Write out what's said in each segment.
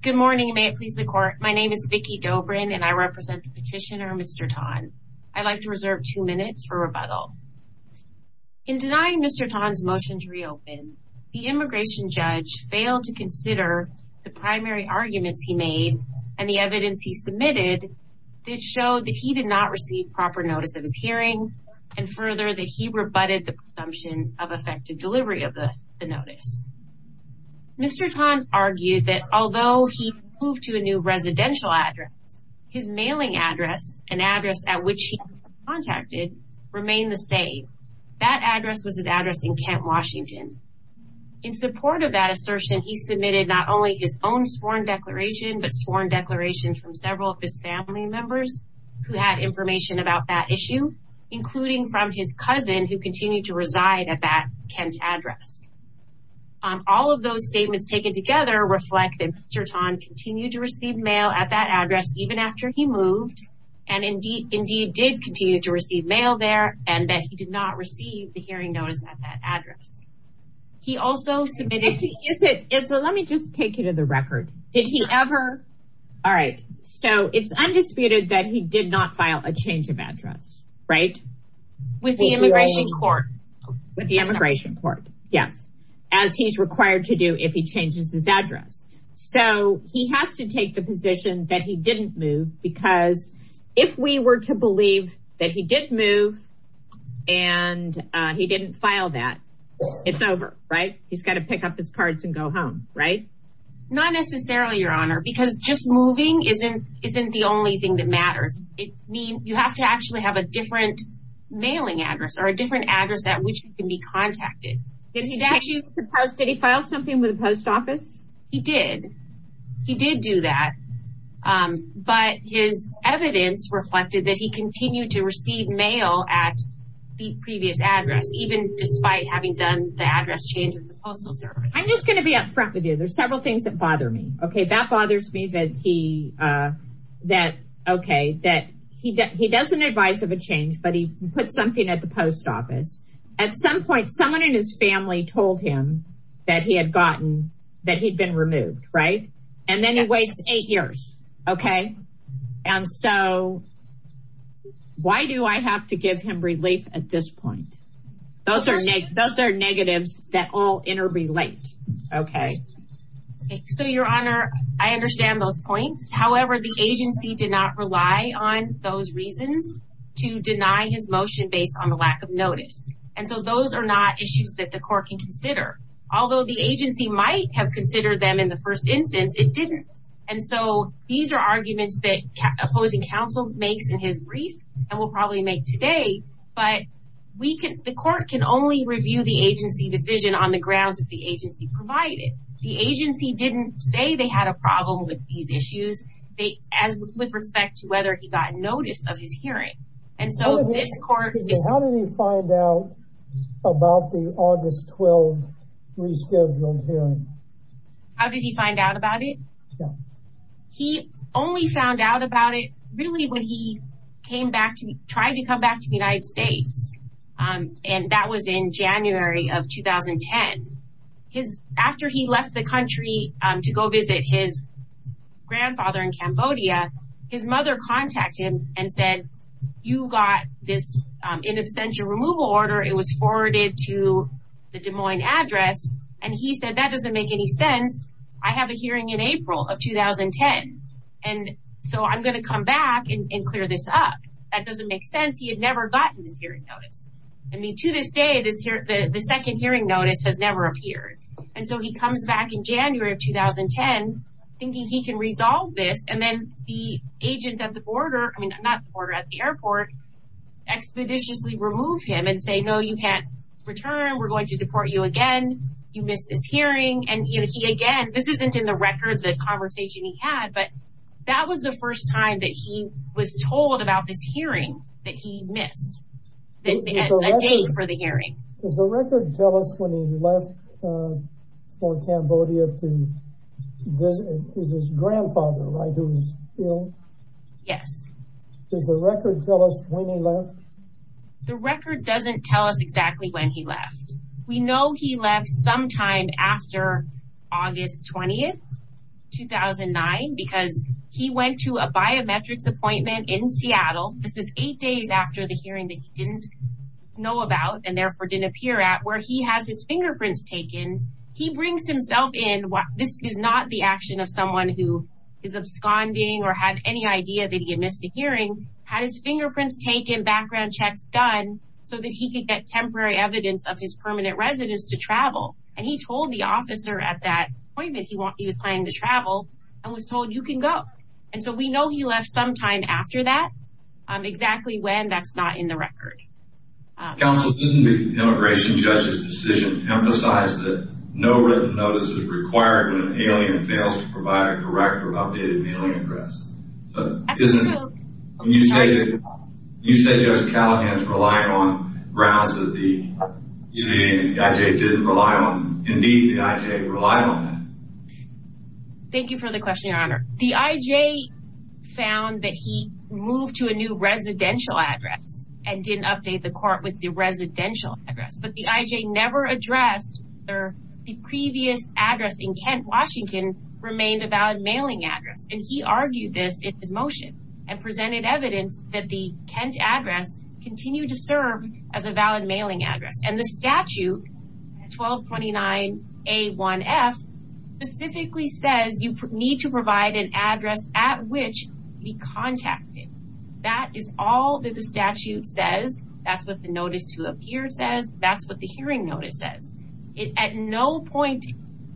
Good morning, may it please the court. My name is Vicki Dobrin and I represent petitioner Mr. Tan. I'd like to reserve two minutes for rebuttal. In denying Mr. Tan's motion to reopen, the immigration judge failed to consider the primary arguments he made and the evidence he submitted that showed that he did not receive proper notice of his hearing and further that he rebutted the presumption of effective delivery of notice. Mr. Tan argued that although he moved to a new residential address, his mailing address and address at which he contacted remained the same. That address was his address in Kent, Washington. In support of that assertion, he submitted not only his own sworn declaration but sworn declarations from several of his family members who had information about that issue, including from his cousin who continued to reside at that Kent address. All of those statements taken together reflect that Mr. Tan continued to receive mail at that address even after he moved and indeed did continue to receive mail there and that he did not receive the hearing notice at that address. He also submitted... Let me just take you to the record. Did he ever? All right, so it's undisputed that he did not file a change of address, right? With the immigration court? With the immigration court, yes, as he's required to do if he changes his address. So, he has to take the position that he didn't move because if we were to believe that he did move and he didn't file that, it's over, right? He's got to pick up his cards and go home, right? Not necessarily, Your Honor, because just moving isn't the only thing that matters. You have to actually have a different mailing address or a different address at which you can be contacted. Did he file something with the post office? He did. He did do that, but his evidence reflected that he continued to receive mail at the previous address even despite having done the address change at the Postal Service. I'm just going to be upfront with you. There's several things that bother me, okay? That bothers me that he doesn't advise of a change, but he puts something at the post office. At some point, someone in his family told him that he had been removed, right? And then he waits eight years, okay? And so, why do I have to give him relief at this point? Those are negatives that all interrelate, okay? So, Your Honor, I understand those points. However, the agency did not rely on those reasons to deny his motion based on the lack of notice. And so, those are not issues that the court can consider. Although the agency might have considered them in the first instance, it didn't. And so, these are arguments that opposing counsel makes in his brief and will probably make today. But the court can only review the agency decision on the grounds that the agency provided. The agency didn't say they had a problem with these issues with respect to whether he got notice of his hearing. And so, this court... How did he find out about the August 12 rescheduled hearing? How did he find out about it? He only found out about it really when he tried to come back to the United States. And that was in January of 2010. After he left the country to go visit his grandfather in Cambodia, his mother contacted him and said, you got this in absentia removal order. It was forwarded to the Des Moines address. And he said, that doesn't make any sense. I have a hearing in April of 2010. And so, I'm going to come back and that doesn't make sense. He had never gotten this hearing notice. I mean, to this day, the second hearing notice has never appeared. And so, he comes back in January of 2010, thinking he can resolve this. And then the agents at the border, I mean, not the border at the airport, expeditiously remove him and say, no, you can't return. We're going to deport you again. You missed this hearing. And he, again, this isn't in the records, the conversation he had, but that was the first time that he was told about this hearing that he missed a day for the hearing. Does the record tell us when he left for Cambodia to visit his grandfather, right, who was ill? Yes. Does the record tell us when he left? The record doesn't tell us exactly when he left. We know he left sometime after August 20th, 2009, because he went to a biometrics appointment in Seattle. This is eight days after the hearing that he didn't know about and therefore didn't appear at, where he has his fingerprints taken. He brings himself in. This is not the action of someone who is absconding or had any idea that he had missed a hearing, had his fingerprints taken, background checks done, so that he could get temporary evidence of his permanent residence to travel. And he told the officer at that appointment he was planning to travel and was told, you can go. And so we know he left sometime after that, exactly when that's not in the record. Counsel, doesn't the immigration judge's decision emphasize that no written notice is required when an alien fails to provide a correct or updated mailing address? That's true. You said Judge Callahan's relying on grounds that the IJ relied on that. Thank you for the question, Your Honor. The IJ found that he moved to a new residential address and didn't update the court with the residential address. But the IJ never addressed the previous address in Kent, Washington remained a valid mailing address. And he argued this in his motion and presented evidence that the Kent address continued to serve as a valid address. The IJ's motion, 9A1F, specifically says you need to provide an address at which to be contacted. That is all that the statute says. That's what the notice to appear says. That's what the hearing notice says. At no point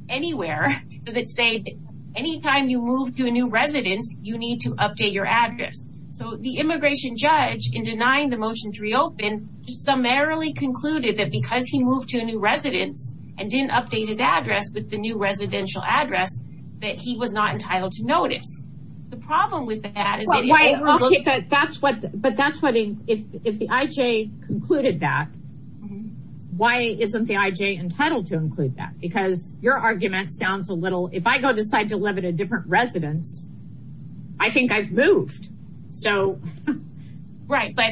anywhere does it say, anytime you move to a new residence, you need to update your address. So the immigration judge, in denying the motion to reopen, summarily concluded that because he moved to a new residence and didn't update his address with the new residential address, that he was not entitled to notice. The problem with that is... But that's what, if the IJ concluded that, why isn't the IJ entitled to include that? Because your argument sounds a little, if I go decide to live in a different residence, I think I've moved. So... Right, but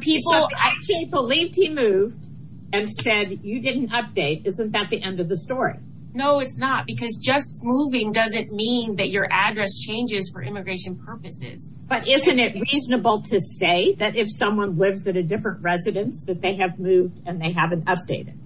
people actually believed he moved and said you didn't update. Isn't that the end of the story? No, it's not. Because just moving doesn't mean that your address changes for immigration purposes. But isn't it reasonable to say that if someone lives at a different residence, that they have moved and they haven't updated?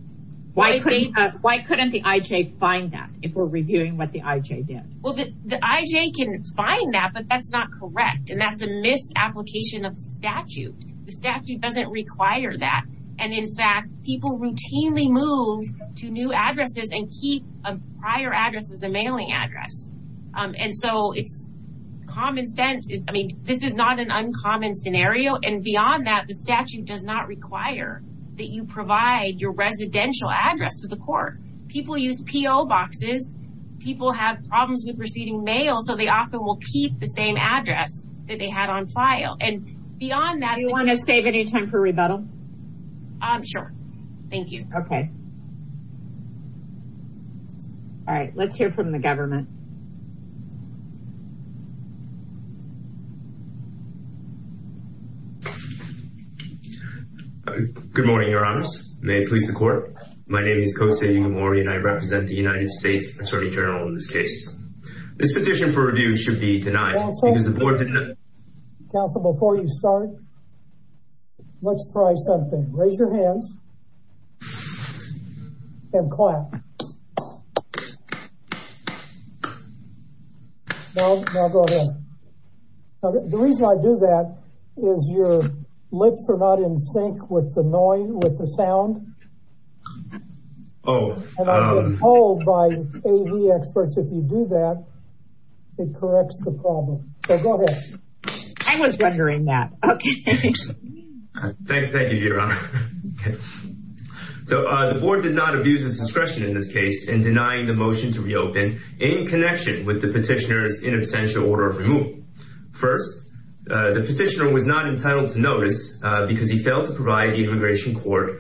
Why couldn't the IJ find that if we're reviewing what the IJ did? Well, the IJ can find that, but that's not correct. And that's a misapplication of the statute. The statute doesn't require that. And in fact, people routinely move to new addresses and keep a prior address as a mailing address. And so it's common sense. I mean, this is not an uncommon scenario. And beyond that, the statute does not require that you provide your residential address to the court. People use P.O. boxes. People have problems with receiving mail, so they often will keep the same address that they had on file. And beyond that... Do you want to save any time for rebuttal? Sure. Thank you. Okay. All right. Let's hear from the government. Good morning, your honors. May it please the court. My name is Kosei Igamori and I represent the United States Attorney General in this case. This petition for review should be denied. Counsel, before you start, let's try something. Raise your hands and clap. Now go ahead. The reason I do that is your lips are not in sync with the noise, with the sound. And I've been told by A.V. experts, if you do that, it corrects the problem. So go ahead. I was wondering that. Okay. Thank you, your honor. So the board did not abuse its discretion in this case in denying the motion to reopen in connection with the petitioner's in absentia order of removal. First, the petitioner was not entitled to notice because he failed to provide the immigration court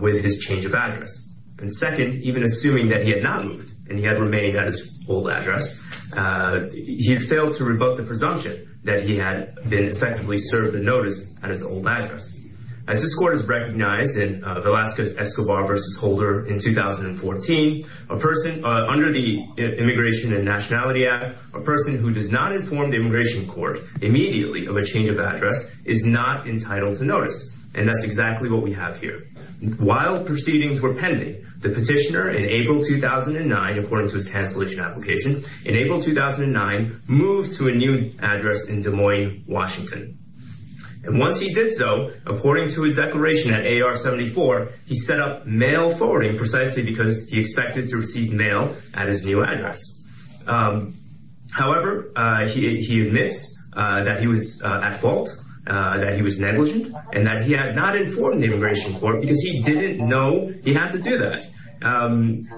with his change of address. And second, even assuming that he had not moved and he had remained at his old address, he had failed to rebut the presumption that he had been effectively served the notice at his old address. As this court has recognized in Velasquez Escobar versus Holder in 2014, a person under the Immigration and Nationality Act, a person who does not inform the immigration court immediately of a change of address is not entitled to notice. And that's exactly what we have here. While proceedings were pending, the petitioner in April 2009, according to his cancellation application in April 2009, moved to a new address in Des Moines, Washington. And once he did so, according to a declaration at AR-74, he set up mail forwarding precisely because he expected to receive mail at his new address. However, he admits that he was at fault, that he was negligent and that he had not informed the immigration court because he didn't know he had to do that.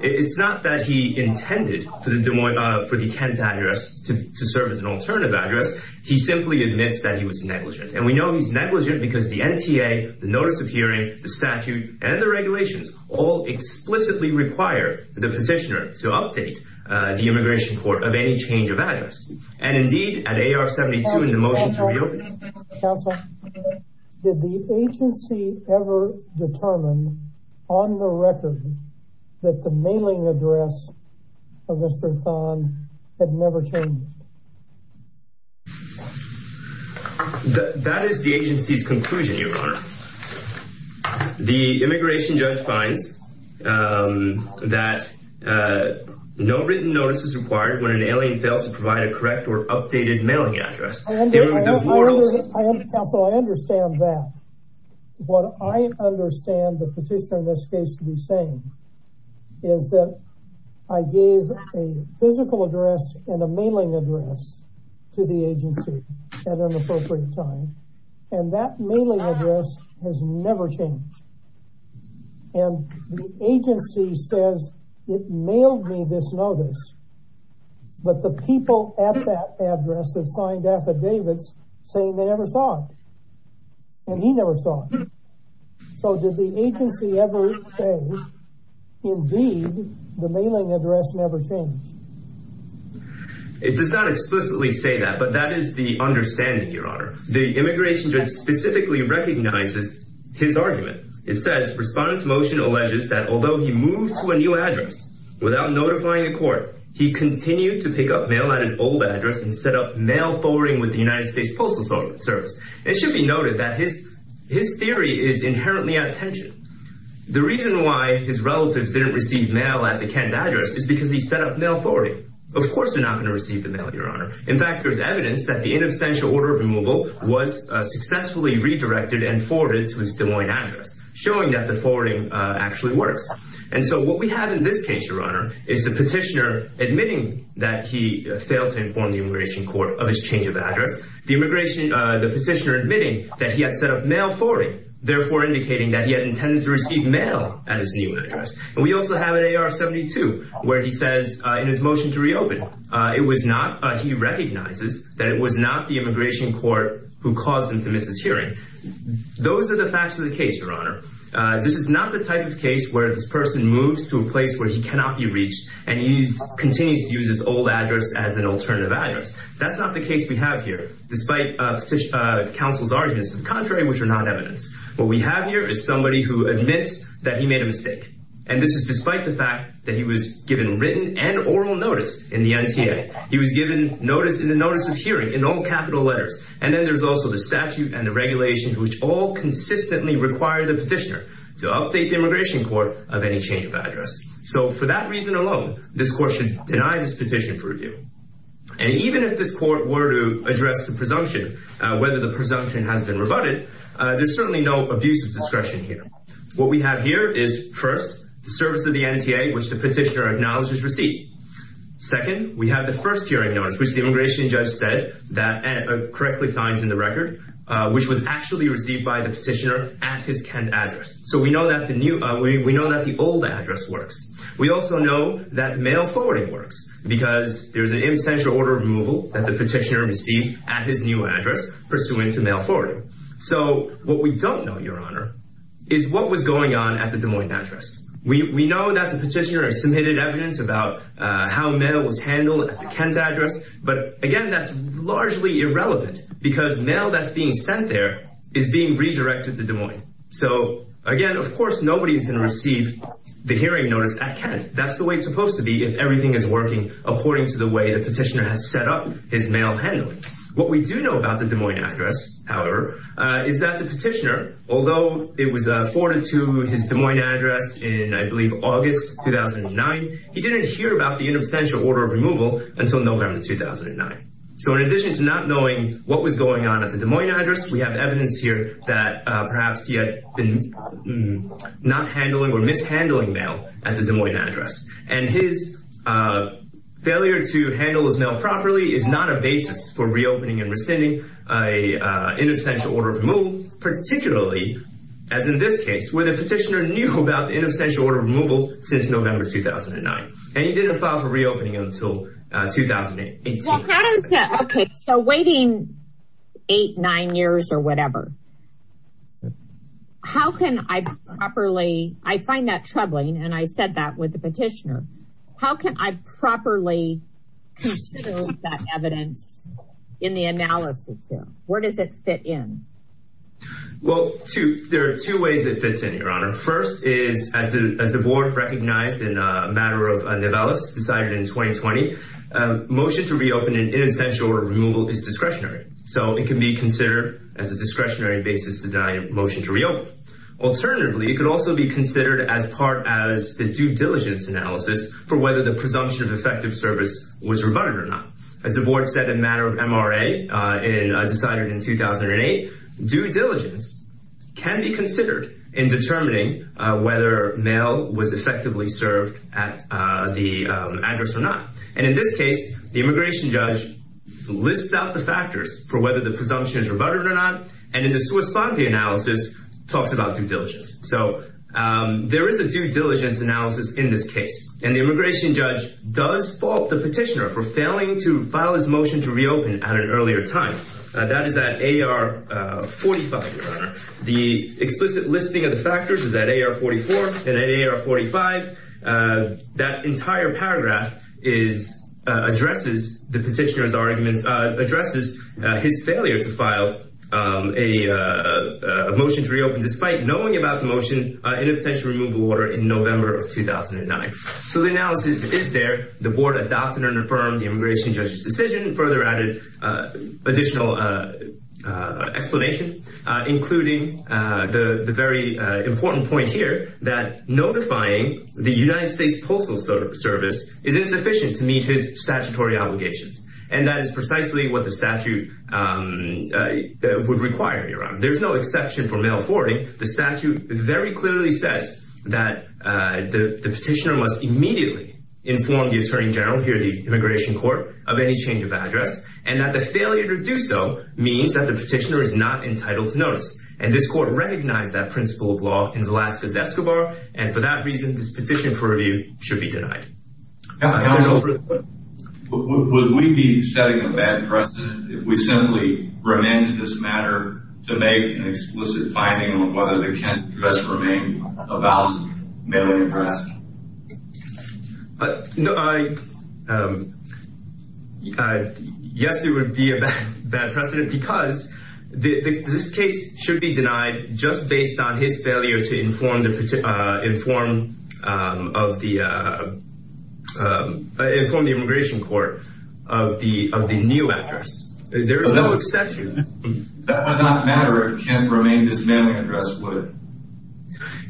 It's not that he intended for the Des Moines, for the Kent address to serve as an alternative address. He simply admits that he was negligent. And we know he's negligent because the NTA, the notice of hearing, the statute and the regulations all explicitly require the petitioner to update the immigration court of any change of address. And indeed, at AR-72, the motion to reopen. Counsel, did the agency ever determine on the record that the mailing address of Mr. Thon had never changed? That is the agency's conclusion, Your Honor. The immigration judge finds that no written notice is required when an alien fails to provide a correct or updated mailing address. Counsel, I understand that. What I understand the petitioner in this case to be saying is that I gave a physical address and a mailing address to the agency at an appropriate time. And that mailing address has never changed. And the agency says it mailed me this notice. But the people at that address have signed affidavits saying they never saw it. And he never saw it. So did the agency ever say, indeed, the mailing address never changed? It does not explicitly say that, but that is the understanding, Your Honor. The immigration judge specifically recognizes his argument. It says, Respondent's motion alleges that although he moved to a new address without notifying the court, he continued to pick up mail at his old address and set up mail forwarding with the United States Postal Service. It should be noted that his theory is inherently out of tension. The reason why his relatives didn't receive mail at the Kent address is because he set up mail forwarding. Of course they're not going to receive the mail, Your Honor. In fact, there's evidence that the inabstantial order of removal was successfully redirected and forwarded to his address. So what we have in this case, Your Honor, is the petitioner admitting that he failed to inform the immigration court of his change of address. The petitioner admitting that he had set up mail forwarding, therefore indicating that he had intended to receive mail at his new address. And we also have an AR-72 where he says in his motion to reopen, he recognizes that it was not the immigration court who caused him to miss his hearing. Those are the facts of the case, Your Honor. This is not the type of case where this person moves to a place where he cannot be reached and he continues to use his old address as an alternative address. That's not the case we have here, despite counsel's arguments to the contrary, which are not evidence. What we have here is somebody who admits that he made a mistake. And this is despite the fact that he was given written and oral notice in the NTA. He was given notice in the notice of hearing in all capital letters. And then there's also the statute and regulations which all consistently require the petitioner to update the immigration court of any change of address. So for that reason alone, this court should deny this petition for review. And even if this court were to address the presumption, whether the presumption has been rebutted, there's certainly no abuse of discretion here. What we have here is first, the service of the NTA, which the petitioner acknowledged his receipt. Second, we have the first hearing notice, which the immigration judge said that correctly finds in the record, which was actually received by the petitioner at his Kent address. So we know that the new, we know that the old address works. We also know that mail forwarding works because there's an essential order of removal that the petitioner received at his new address pursuant to mail forwarding. So what we don't know, Your Honor, is what was going on at the Des Moines address. We know that the petitioner has submitted evidence about how mail was handled at the Kent address. But again, that's largely irrelevant because mail that's being sent there is being redirected to Des Moines. So again, of course, nobody is going to receive the hearing notice at Kent. That's the way it's supposed to be if everything is working according to the way the petitioner has set up his mail handling. What we do know about the Des Moines address, however, is that the petitioner, although it was forwarded to his Des Moines address in, I believe, August 2009, he didn't hear about the interstitial order of removal until November 2009. So in addition to not knowing what was going on at the Des Moines address, we have evidence here that perhaps he had been not handling or mishandling mail at the Des Moines address. And his failure to handle his mail properly is not a basis for reopening and rescinding a interstitial order of removal, particularly, as in this case, where the petitioner knew about the interstitial order of removal since November 2009. And he didn't file for reopening until 2018. Okay, so waiting eight, nine years or whatever, how can I properly, I find that troubling and I said that with the petitioner, how can I properly consider that evidence in the analysis? Where does it fit in? Well, there are two ways it fits in, Your Honor. First is as the board recognized in a matter of Nivellas decided in 2020, motion to reopen an interstitial order of removal is discretionary. So it can be considered as a discretionary basis to deny a motion to reopen. Alternatively, it could also be considered as part as the due diligence analysis for whether the presumption of effective service was rebutted or not. As the board said in matter of MRA decided in 2008, due diligence can be considered in determining whether mail was effectively served at the address or not. And in this case, the immigration judge lists out the factors for whether the presumption is due diligence. So there is a due diligence analysis in this case. And the immigration judge does fault the petitioner for failing to file his motion to reopen at an earlier time. That is at AR 45, Your Honor. The explicit listing of the factors is at AR 44 and AR 45. That entire paragraph addresses the petitioner's arguments, addresses his failure to file a knowing about the motion in abstention removal order in November of 2009. So the analysis is there. The board adopted and affirmed the immigration judge's decision and further added additional explanation, including the very important point here that notifying the United States Postal Service is insufficient to meet his statutory obligations. And that is precisely what the statute would require, Your Honor. There's no exception for mail forwarding. The statute very clearly says that the petitioner must immediately inform the attorney general here at the immigration court of any change of address and that the failure to do so means that the petitioner is not entitled to notice. And this court recognized that principle of law in Velazquez-Escobar and for that reason, this petition for review should be denied. Counsel, would we be setting a bad precedent if we simply remanded this matter to make an explicit finding on whether the Kent address remained a valid mailing address? Yes, it would be a bad precedent because this case should be denied just based on his failure to inform the immigration court of the new address. There is no exception. That would not matter if Kent remained his mailing address, would it?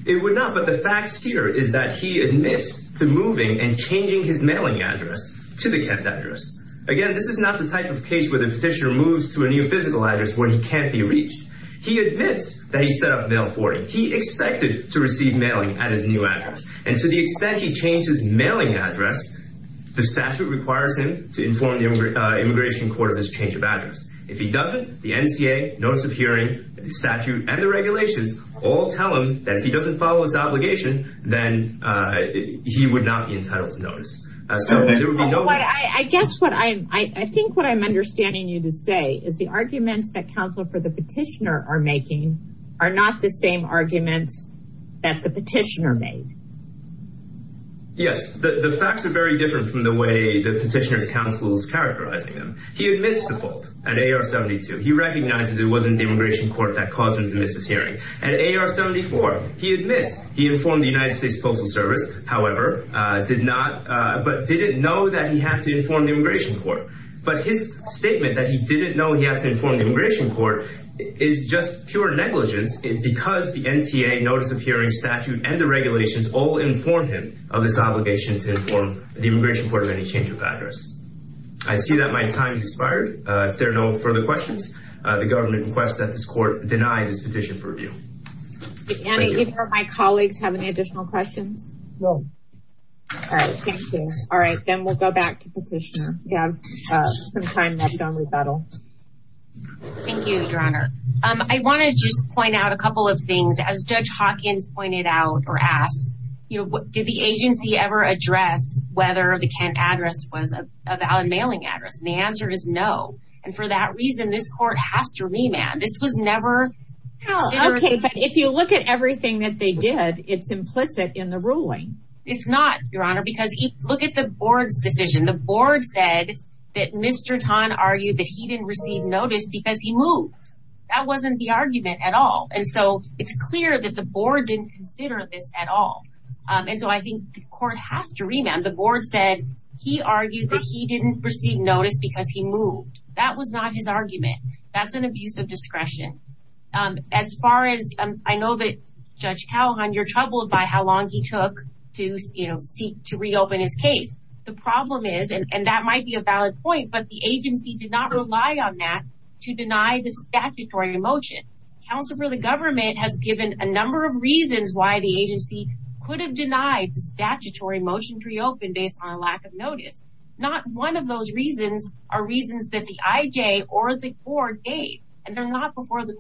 It would not, but the facts here is that he admits to moving and changing his mailing address to the Kent address. Again, this is not the type of case where the petitioner moves to a new address where he can't be reached. He admits that he set up mail forwarding. He expected to receive mailing at his new address. And to the extent he changed his mailing address, the statute requires him to inform the immigration court of his change of address. If he doesn't, the NCA, notice of hearing, the statute and the regulations all tell him that if he doesn't follow his obligation, then he would not be entitled to notice. I think what I'm understanding you to say is the arguments that counsel for the petitioner are making are not the same arguments that the petitioner made. Yes, the facts are very different from the way the petitioner's counsel is characterizing them. He admits the fault at A.R. 72. He recognizes it wasn't the immigration court that caused him to miss his hearing. At A.R. 74, he admits he informed the United States Postal Service, however, did not, but didn't know that he had to inform the immigration court. But his statement that he didn't know he had to inform the immigration court is just pure negligence because the NCA, notice of hearing, statute and the regulations all inform him of his obligation to inform the immigration court of any change of address. I see that my time has expired. If there are no further questions, the government requests that this court deny this petition for review. Did any of my colleagues have any additional questions? No. All right. Thank you. All right. Then we'll go back to the petitioner. Thank you, Your Honor. I want to just point out a couple of things. As Judge Hawkins pointed out or asked, did the agency ever address whether the Kent address was a valid mailing address? The answer is no. And for that reason, this court has to remand. This was never considered. But if you look at everything that they did, it's implicit in the ruling. It's not, Your Honor, because if you look at the board's decision, the board said that Mr. Tan argued that he didn't receive notice because he moved. That wasn't the argument at all. And so it's clear that the board didn't consider this at all. And so I think the court has to remand. The board said he argued that he didn't receive notice because he moved. That was not his I know that, Judge Calhoun, you're troubled by how long he took to, you know, seek to reopen his case. The problem is, and that might be a valid point, but the agency did not rely on that to deny the statutory motion. Counsel for the government has given a number of reasons why the agency could have denied the statutory motion to reopen based on a lack of notice. Not one of those reasons are reasons that the IJ or the court gave. And they're not before the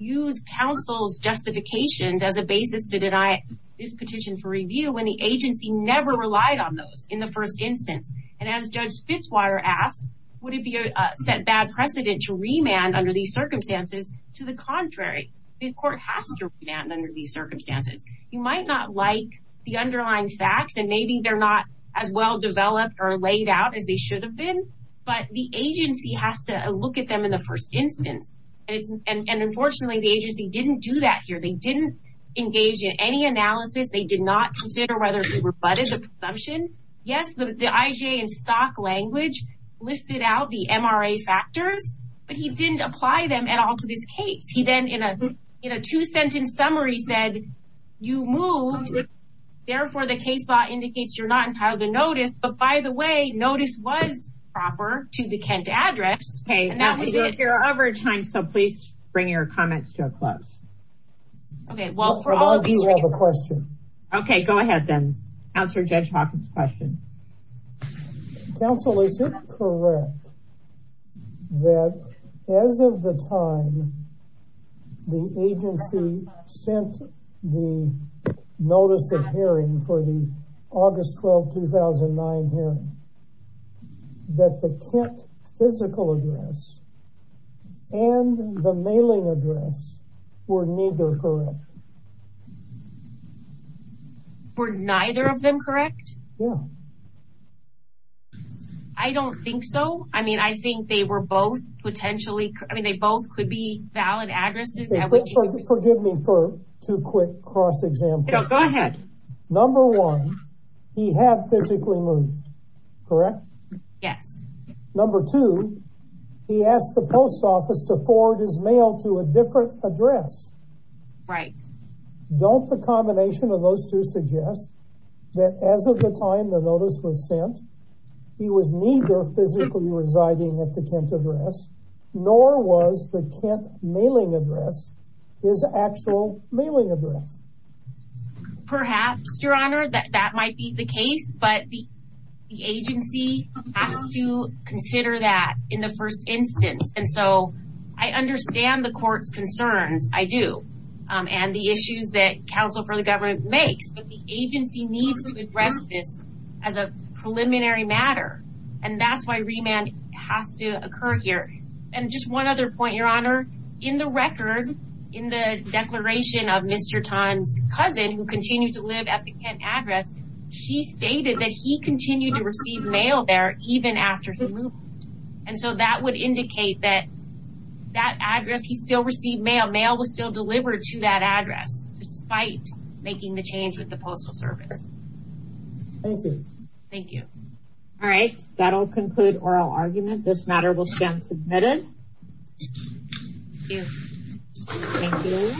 use counsel's justifications as a basis to deny this petition for review when the agency never relied on those in the first instance. And as Judge Fitzwater asked, would it be a set bad precedent to remand under these circumstances? To the contrary, the court has to remand under these circumstances. You might not like the underlying facts, and maybe they're not as well developed or laid out as they should have been. But the agency has to look at them in the first instance. And unfortunately, the agency didn't do that here. They didn't engage in any analysis. They did not consider whether it rebutted the presumption. Yes, the IJ in stock language listed out the MRA factors, but he didn't apply them at all to this case. He then in a two-sentence summary said, you moved. Therefore, the case law indicates you're not entitled to notice. The way notice was proper to the Kent address. Okay, now we're over time, so please bring your comments to a close. Okay, well, for all of you have a question. Okay, go ahead then. Answer Judge Hawkins question. Counsel, is it correct that as of the time the agency sent the notice of hearing for the August 12, 2009 hearing, that the Kent physical address and the mailing address were neither correct? Were neither of them correct? Yeah. I don't think so. I mean, I think they were both potentially, I mean, they both could be cross examples. Go ahead. Number one, he had physically moved, correct? Yes. Number two, he asked the post office to forward his mail to a different address. Right. Don't the combination of those two suggest that as of the time the notice was sent, he was neither physically residing at the Kent address, nor was the Kent mailing address his actual mailing address? Perhaps, your honor, that might be the case, but the agency has to consider that in the first instance. And so I understand the court's concerns. I do. And the issues that counsel for the government makes, but the agency needs to address this as a preliminary matter. And that's why remand has to occur here. And just one other point, your honor, in the record, in the declaration of Mr. Tan's cousin, who continued to live at the Kent address, she stated that he continued to receive mail there even after he moved. And so that would indicate that that address, he still received mail. Mail was still delivered to that address, despite making the postal service. Thank you. Thank you. All right. That'll conclude oral argument. This matter will stand submitted. Thank you.